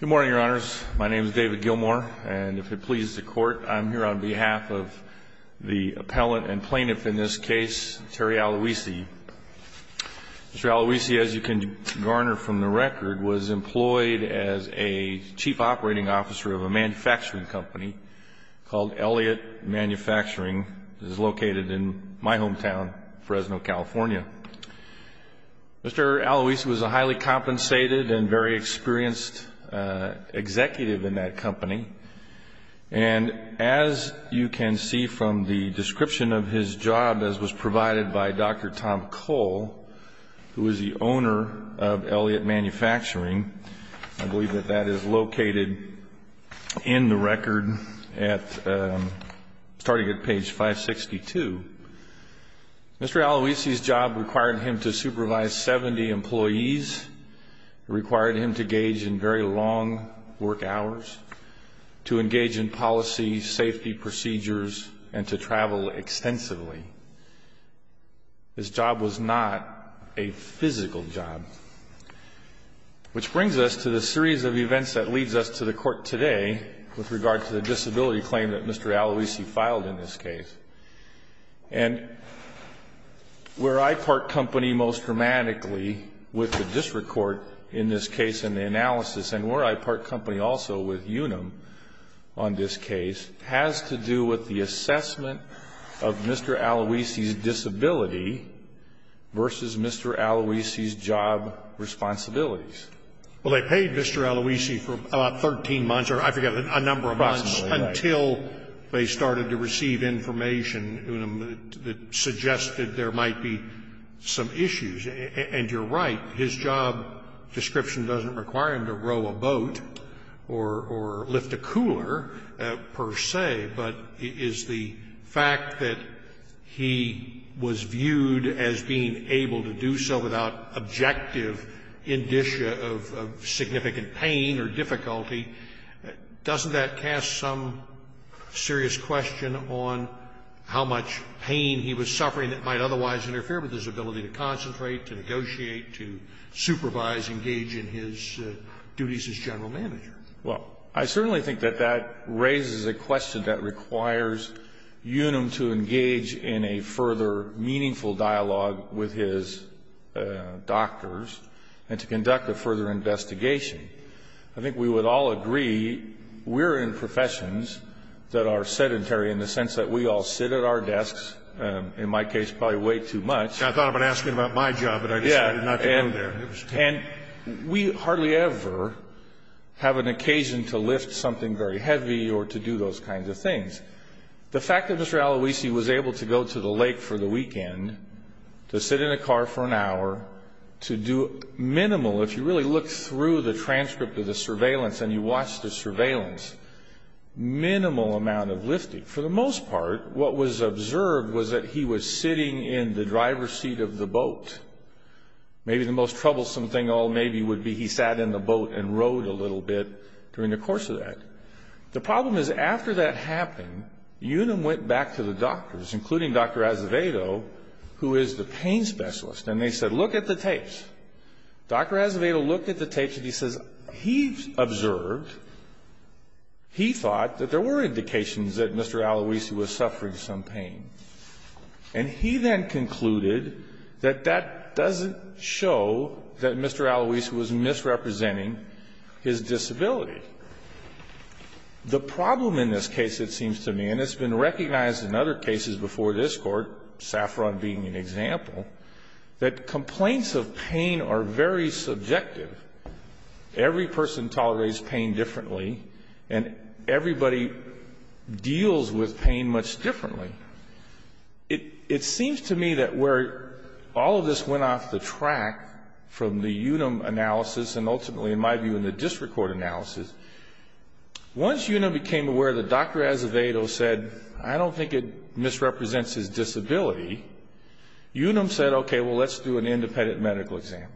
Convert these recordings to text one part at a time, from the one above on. Good morning, Your Honors. My name is David Gilmour, and if it pleases the Court, I'm here on behalf of the appellant and plaintiff in this case, Terry Aluisi. Mr. Aluisi, as you can garner from the record, was employed as a chief operating officer of a manufacturing company called Elliott Manufacturing, which is located in my hometown, Fresno, California. Mr. Aluisi was a highly compensated and very experienced executive in that company, and as you can see from the description of his job, as was provided by Dr. Tom Cole, who is the owner of Elliott Manufacturing, I believe that that is located in the record, starting at page 562. Mr. Aluisi's job required him to supervise 70 employees. It required him to engage in very long work hours, to engage in policy, safety procedures, and to travel extensively. His job was not a physical job, which brings us to the series of events that leads us to the Court today with regard to the disability claim that Mr. Aluisi filed in this case. And where I part company most dramatically with the district court in this case and the analysis, and where I part company also with Unum on this case, has to do with the assessment of Mr. Aluisi's disability versus Mr. Aluisi's job responsibilities. Well, they paid Mr. Aluisi for about 13 months, or I forget, a number of months, until they started to receive information in Unum that suggested there might be some issues. And you're right. His job description doesn't require him to row a boat or lift a cooler per se, but is the fact that he was viewed as being able to do so without objective indicia of significant pain or difficulty, doesn't that cast some serious question on how much pain he was suffering that might otherwise interfere with his ability to concentrate, to negotiate, to supervise, engage in his duties as general manager? Well, I certainly think that that raises a question that requires Unum to engage in a further meaningful dialogue with his doctors and to conduct a further investigation. I think we would all agree we're in professions that are sedentary in the sense that we all sit at our desks, in my case probably way too much. I thought I would ask you about my job, but I decided not to go there. And we hardly ever have an occasion to lift something very heavy or to do those kinds of things. The fact that Mr. Aloisi was able to go to the lake for the weekend, to sit in a car for an hour, to do minimal, if you really look through the transcript of the surveillance and you watch the surveillance, minimal amount of lifting. For the most part, what was observed was that he was sitting in the driver's seat of the boat. Maybe the most troublesome thing all maybe would be he sat in the boat and rowed a little bit during the course of that. The problem is after that happened, Unum went back to the doctors, including Dr. Azevedo, who is the pain specialist. And they said, look at the tapes. Dr. Azevedo looked at the tapes and he says he observed, he thought that there were indications that Mr. Aloisi was suffering some pain. And he then concluded that that doesn't show that Mr. Aloisi was misrepresenting his disability. The problem in this case, it seems to me, and it's been recognized in other cases before this Court, Saffron being an example, that complaints of pain are very subjective. Every person tolerates pain differently, and everybody deals with pain much differently. It seems to me that where all of this went off the track from the Unum analysis and ultimately, in my view, in the district court analysis, once Unum became aware that Dr. Azevedo said, I don't think it misrepresents his disability, Unum said, okay, well, let's do an independent medical exam.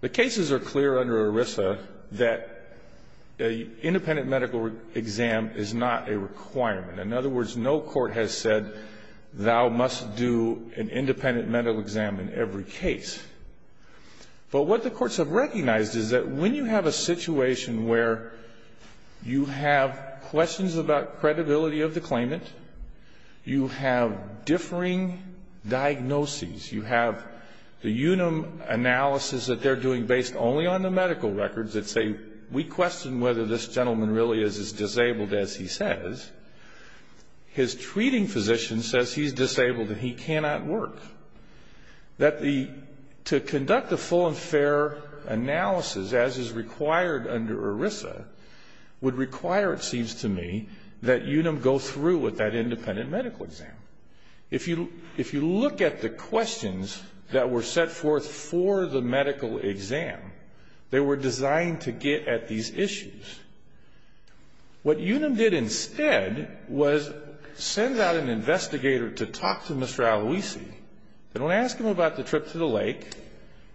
The cases are clear under ERISA that an independent medical exam is not a requirement. In other words, no court has said thou must do an independent medical exam in every case. But what the courts have recognized is that when you have a situation where you have questions about credibility of the claimant, you have differing diagnoses, you have the Unum analysis that they're doing based only on the medical records that say, we question whether this gentleman really is as disabled as he says. His treating physician says he's disabled and he cannot work. That to conduct a full and fair analysis as is required under ERISA would require, it seems to me, that Unum go through with that independent medical exam. If you look at the questions that were set forth for the medical exam, they were designed to get at these issues. What Unum did instead was send out an investigator to talk to Mr. Aloisi. They don't ask him about the trip to the lake.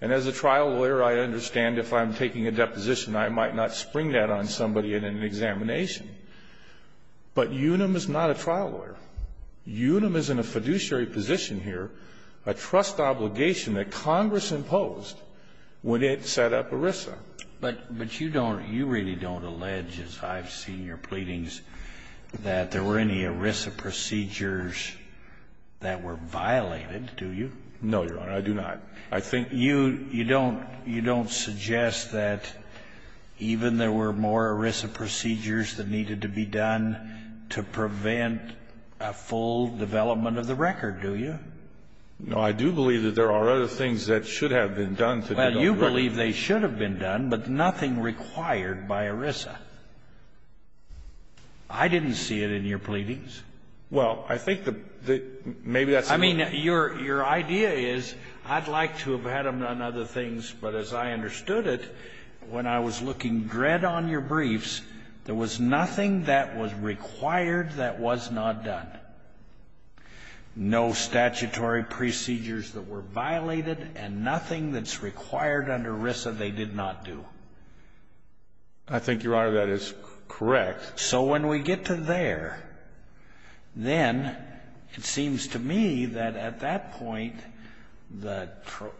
And as a trial lawyer, I understand if I'm taking a deposition, I might not spring that on somebody in an examination. But Unum is not a trial lawyer. Unum is in a fiduciary position here, a trust obligation that Congress imposed when it set up ERISA. But you don't, you really don't allege, as I've seen your pleadings, that there were any ERISA procedures that were violated, do you? No, Your Honor, I do not. I think you, you don't, you don't suggest that even there were more ERISA procedures that needed to be done to prevent a full development of the record, do you? No, I do believe that there are other things that should have been done to develop the record. Well, you believe they should have been done, but nothing required by ERISA. I didn't see it in your pleadings. Well, I think that maybe that's enough. I mean, your idea is I'd like to have had them done other things, but as I understood it, when I was looking dread on your briefs, there was nothing that was required that was not done. No statutory procedures that were violated and nothing that's required under ERISA they did not do. I think, Your Honor, that is correct. So when we get to there, then it seems to me that at that point, the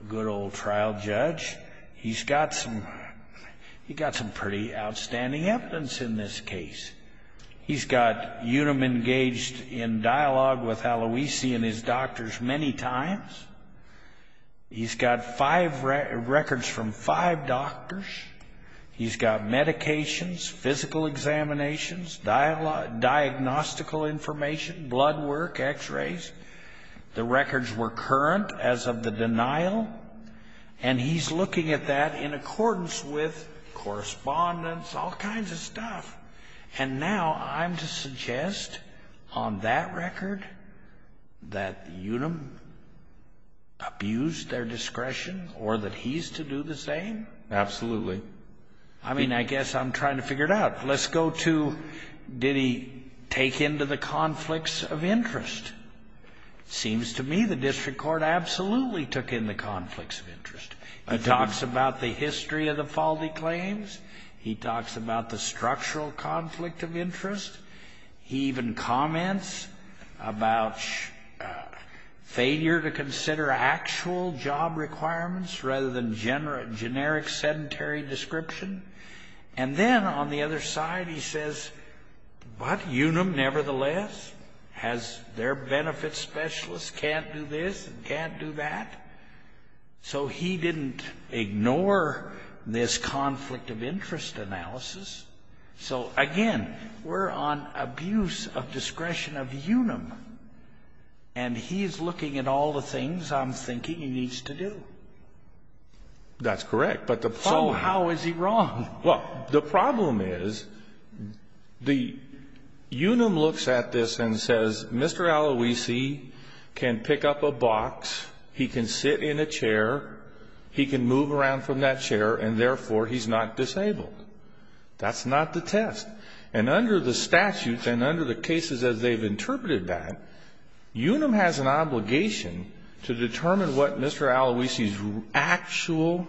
good old trial judge, he's got some pretty outstanding evidence in this case. He's got Unum engaged in dialogue with Aloisi and his doctors many times. He's got records from five doctors. He's got medications, physical examinations, diagnostical information, blood work, x-rays. The records were current as of the denial, and he's looking at that in accordance with correspondence, all kinds of stuff, and now I'm to suggest on that record that Unum abused their discretion or that he's to do the same? Absolutely. I mean, I guess I'm trying to figure it out. Let's go to did he take into the conflicts of interest. It seems to me the district court absolutely took in the conflicts of interest. It talks about the history of the faulty claims. He talks about the structural conflict of interest. He even comments about failure to consider actual job requirements rather than generic sedentary description. And then on the other side, he says, but Unum nevertheless has their benefit specialists can't do this and can't do that. So he didn't ignore this conflict of interest analysis. So, again, we're on abuse of discretion of Unum, and he's looking at all the things I'm thinking he needs to do. That's correct, but the problem is... So how is he wrong? He can move around from that chair, and, therefore, he's not disabled. That's not the test. And under the statutes and under the cases as they've interpreted that, Unum has an obligation to determine what Mr. Aloisi's actual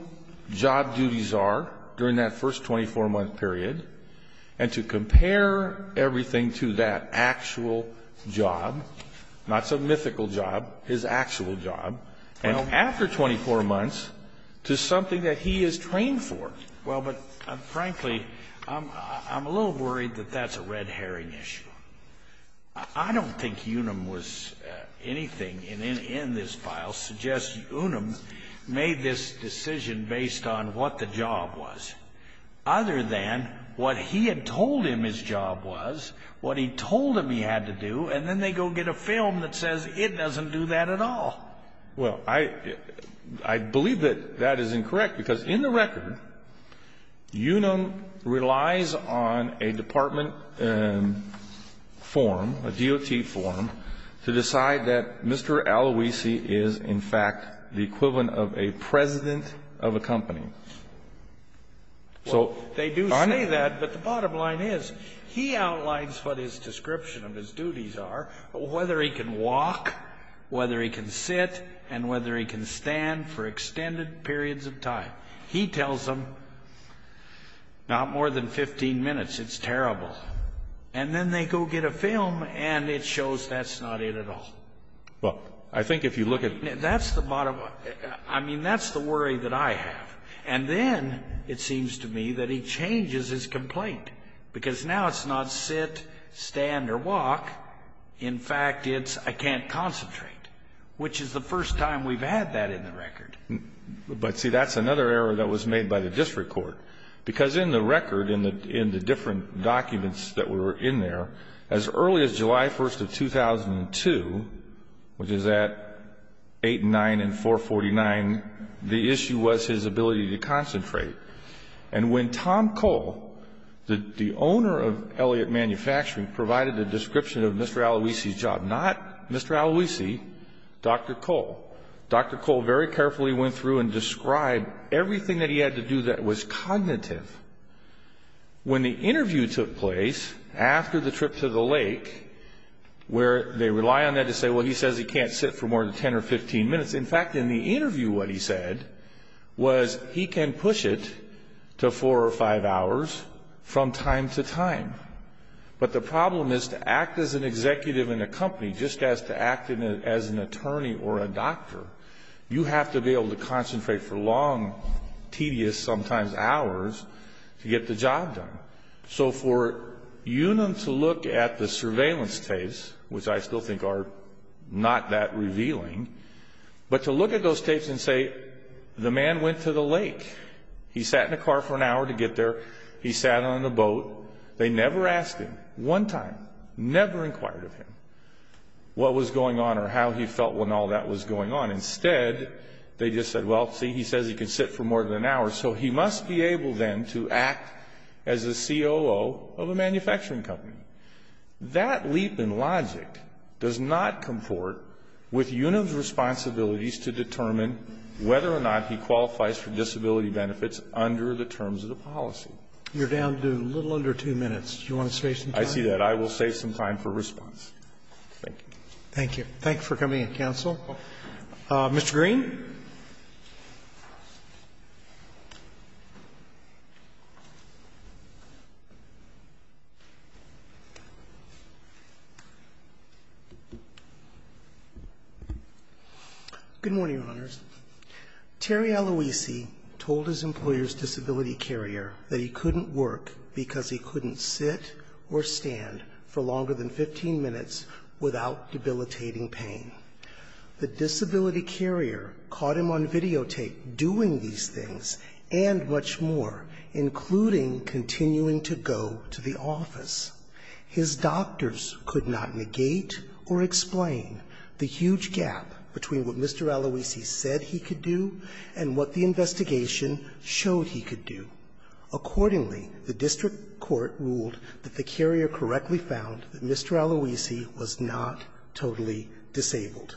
job duties are during that first 24-month period and to compare everything to that actual job, not some mythical job, his actual job. And after 24 months, to something that he is trained for. Well, but, frankly, I'm a little worried that that's a red herring issue. I don't think Unum was anything in this file suggesting Unum made this decision based on what the job was, other than what he had told him his job was, what he told him he had to do, and then they go get a film that says it doesn't do that at all. Well, I believe that that is incorrect, because in the record, Unum relies on a department form, a DOT form, to decide that Mr. Aloisi is, in fact, the equivalent of a president of a company. Well, they do say that, but the bottom line is he outlines what his description of his duties are, whether he can walk, whether he can sit, and whether he can stand for extended periods of time. He tells them not more than 15 minutes. It's terrible. And then they go get a film, and it shows that's not it at all. Well, I think if you look at the bottom line, that's the worry that I have. And then it seems to me that he changes his complaint, because now it's not sit, stand, or walk. In fact, it's I can't concentrate, which is the first time we've had that in the record. But, see, that's another error that was made by the district court, because in the record, in the different documents that were in there, as early as July 1st of 2002, which is at 8 and 9 and 449, the issue was his ability to concentrate. And when Tom Cole, the owner of Elliott Manufacturing, provided a description of Mr. Aloisi's job, not Mr. Aloisi, Dr. Cole, Dr. Cole very carefully went through and described everything that he had to do that was cognitive. When the interview took place after the trip to the lake, where they rely on that to say, well, he says he can't sit for more than 10 or 15 minutes. In fact, in the interview what he said was he can push it to four or five hours from time to time. But the problem is to act as an executive in a company, just as to act as an attorney or a doctor, you have to be able to concentrate for long, tedious, sometimes hours to get the job done. So for Unum to look at the surveillance tapes, which I still think are not that revealing, but to look at those tapes and say the man went to the lake, he sat in a car for an hour to get there, he sat on a boat, they never asked him one time, never inquired of him what was going on or how he felt when all that was going on. Instead, they just said, well, see, he says he can sit for more than an hour, so he must be able then to act as a COO of a manufacturing company. That leap in logic does not comport with Unum's responsibilities to determine whether or not he qualifies for disability benefits under the terms of the policy. You're down to a little under two minutes. Do you want to save some time? I see that. I will save some time for response. Thank you. Thank you. Thank you for coming in, counsel. Mr. Green. Good morning, Your Honors. Terry Aloisi told his employer's disability carrier that he couldn't work because he couldn't sit or stand for longer than 15 minutes without debilitating pain. The disability carrier caught him on videotape doing these things and much more, including continuing to go to the office. His doctors could not negate or explain the huge gap between what Mr. Aloisi said he could do and what the investigation showed he could do. Accordingly, the district court ruled that the carrier correctly found that Mr. Aloisi was not totally disabled.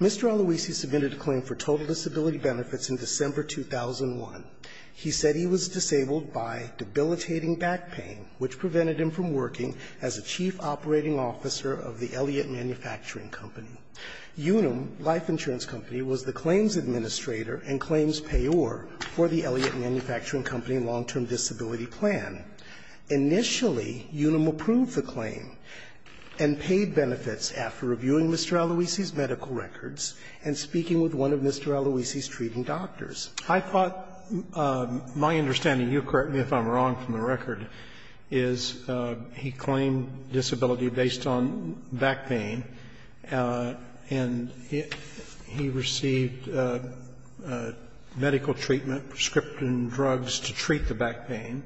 Mr. Aloisi submitted a claim for total disability benefits in December 2001. He said he was disabled by debilitating back pain, which prevented him from working as a chief operating officer of the Elliott Manufacturing Company. Unum Life Insurance Company was the claims administrator and claims payor for the Elliott Manufacturing Company long-term disability plan. Initially, Unum approved the claim and paid benefits after reviewing Mr. Aloisi's medical records and speaking with one of Mr. Aloisi's treating doctors. I thought my understanding, you correct me if I'm wrong from the record, is he claimed disability based on back pain, and he received medical treatment, prescription drugs to treat the back pain,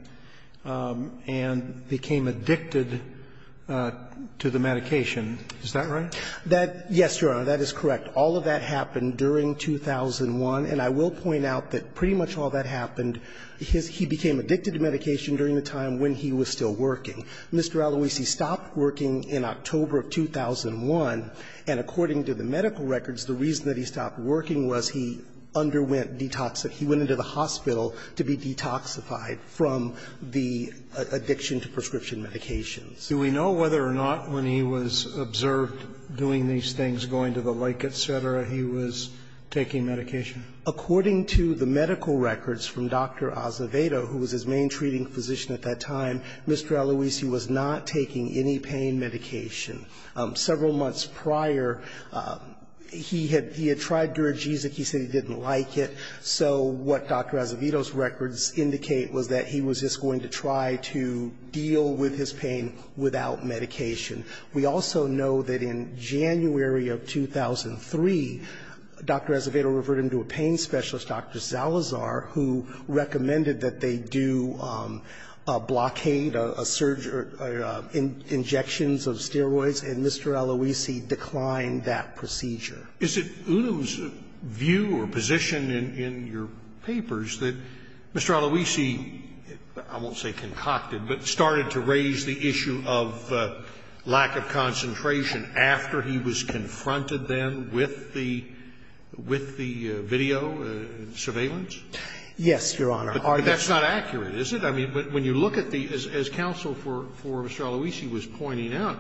and became addicted to the medication. Is that right? That yes, Your Honor, that is correct. All of that happened during 2001, and I will point out that pretty much all that happened because he became addicted to medication during the time when he was still working. Mr. Aloisi stopped working in October of 2001, and according to the medical records, the reason that he stopped working was he underwent detoxification. He went into the hospital to be detoxified from the addiction to prescription medications. Do we know whether or not when he was observed doing these things, going to the lake, et cetera, he was taking medication? According to the medical records from Dr. Azevedo, who was his main treating physician at that time, Mr. Aloisi was not taking any pain medication. Several months prior, he had tried Duragesic. He said he didn't like it. So what Dr. Azevedo's records indicate was that he was just going to try to deal with his pain without medication. We also know that in January of 2003, Dr. Azevedo referred him to a pain specialist, Dr. Zalazar, who recommended that they do a blockade, a surge or injections of steroids, and Mr. Aloisi declined that procedure. Is it Udo's view or position in your papers that Mr. Aloisi, I won't say concocted, but started to raise the issue of lack of concentration after he was confronted then with the video surveillance? Yes, Your Honor. But that's not accurate, is it? I mean, when you look at the as counsel for Mr. Aloisi was pointing out,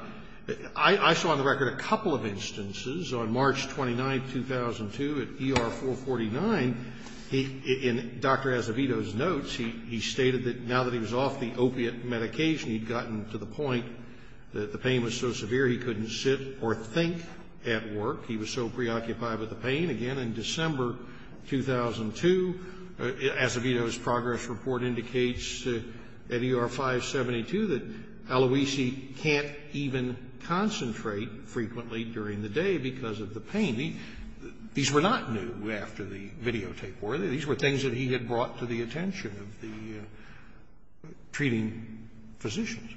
I saw on the record a couple of instances on March 29, 2002, at ER 449, in Dr. Azevedo's notes, he stated that now that he was off the opiate medication, he had gotten to the point that the pain was so severe he couldn't sit or think at work. He was so preoccupied with the pain. Again, in December 2002, Azevedo's progress report indicates at ER 572 that Aloisi can't even concentrate frequently during the day because of the pain. These were not new after the videotape war. These were things that he had brought to the attention of the treating physicians.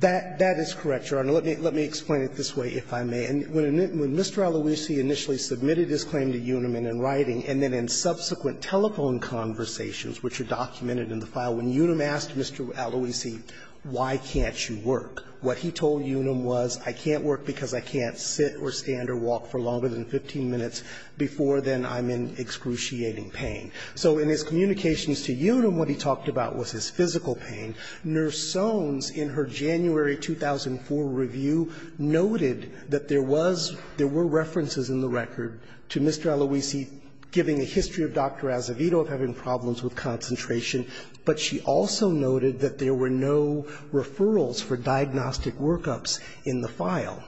That is correct, Your Honor. Let me explain it this way, if I may. When Mr. Aloisi initially submitted his claim to Unum in writing, and then in subsequent telephone conversations, which are documented in the file, when Unum asked Mr. Aloisi, why can't you work, what he told Unum was, I can't work because I can't sit or stand or walk for longer than 15 minutes before then I'm in excruciating pain. So in his communications to Unum, what he talked about was his physical pain. Nurse Soans, in her January 2004 review, noted that there was, there were references in the record to Mr. Aloisi giving a history of Dr. Azevedo of having problems with concentration, but she also noted that there were no referrals for diagnostic workups in the file.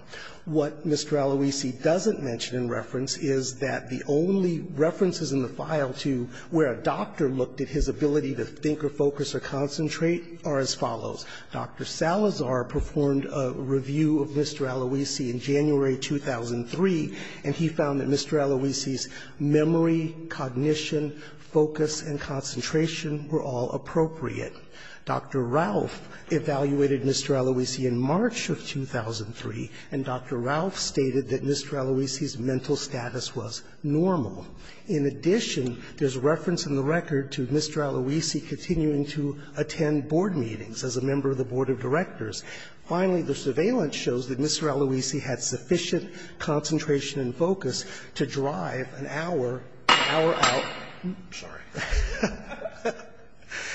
What Mr. Aloisi doesn't mention in reference is that the only references in the file to where a doctor looked at his ability to think or focus or concentrate are as follows. Dr. Salazar performed a review of Mr. Aloisi in January 2003, and he found that Mr. Aloisi's memory, cognition, focus, and concentration were all appropriate. Dr. Ralph evaluated Mr. Aloisi in March of 2003, and Dr. Ralph stated that Mr. Aloisi's mental status was normal. In addition, there's reference in the record to Mr. Aloisi continuing to attend board meetings as a member of the board of directors. Finally, the surveillance shows that Mr. Aloisi had sufficient concentration and focus to drive an hour, hour out, sorry,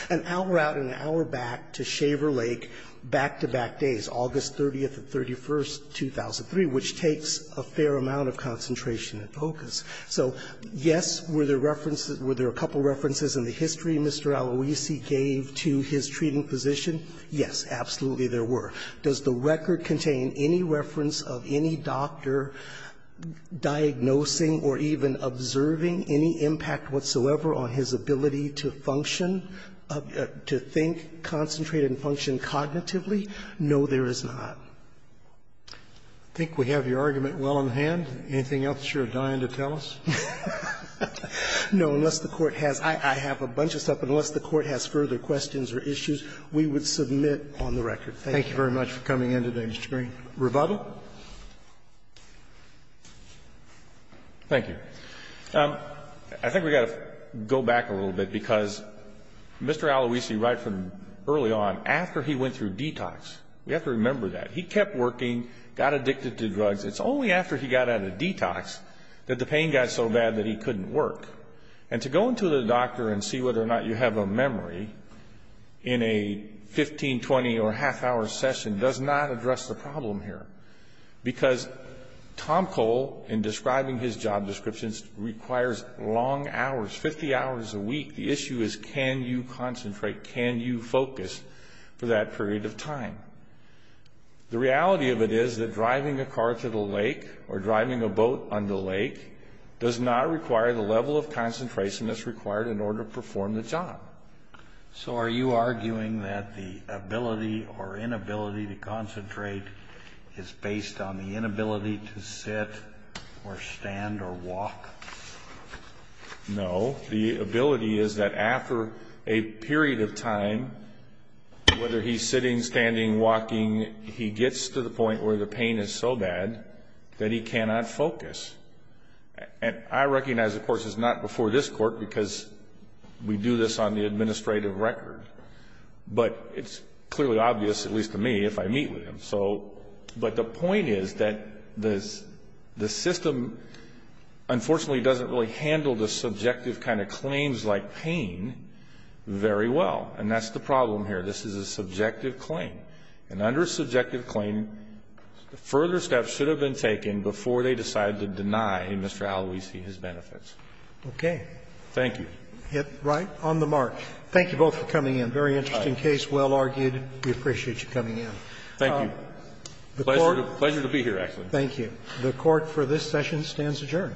an hour out of his life. An hour back to Shaver Lake, back-to-back days, August 30th and 31st, 2003, which takes a fair amount of concentration and focus. So, yes, were there references, were there a couple of references in the history Mr. Aloisi gave to his treating physician? Yes, absolutely there were. Does the record contain any reference of any doctor diagnosing or even observing any impact whatsoever on his ability to function, to think, concentrate and function cognitively? No, there is not. I think we have your argument well in hand. Anything else you're dying to tell us? No. Unless the Court has, I have a bunch of stuff. Unless the Court has further questions or issues, we would submit on the record. Thank you. Thank you very much for coming in today, Mr. Green. Rebuttal. Thank you. I think we got to go back a little bit because Mr. Aloisi, right from early on, after he went through detox, we have to remember that, he kept working, got addicted to drugs. It's only after he got out of detox that the pain got so bad that he couldn't work. And to go into the doctor and see whether or not you have a memory in a 15, 20 or half-hour session does not address the problem here. Because Tom Cole, in describing his job descriptions, requires long hours, 50 hours a week. The issue is can you concentrate? Can you focus for that period of time? The reality of it is that driving a car to the lake or driving a boat on the lake does not require the level of concentration that's required in order to perform the job. So are you arguing that the ability or inability to concentrate is based on the inability to sit or stand or walk? No. The ability is that after a period of time, whether he's sitting, standing, walking, he gets to the point where the pain is so bad that he cannot focus. And I recognize, of course, it's not before this Court because we do this on the administrative record. But it's clearly obvious, at least to me, if I meet with him. But the point is that the system, unfortunately, doesn't really handle the subjective kind of claims like pain very well. And that's the problem here. This is a subjective claim. And under a subjective claim, further steps should have been taken before they decided to deny Mr. Aloisi his benefits. Okay. Thank you. Right. On the mark. Thank you both for coming in. Very interesting case. Well argued. We appreciate you coming in. Thank you. Pleasure to be here, actually. Thank you. The Court for this session stands adjourned. All rise.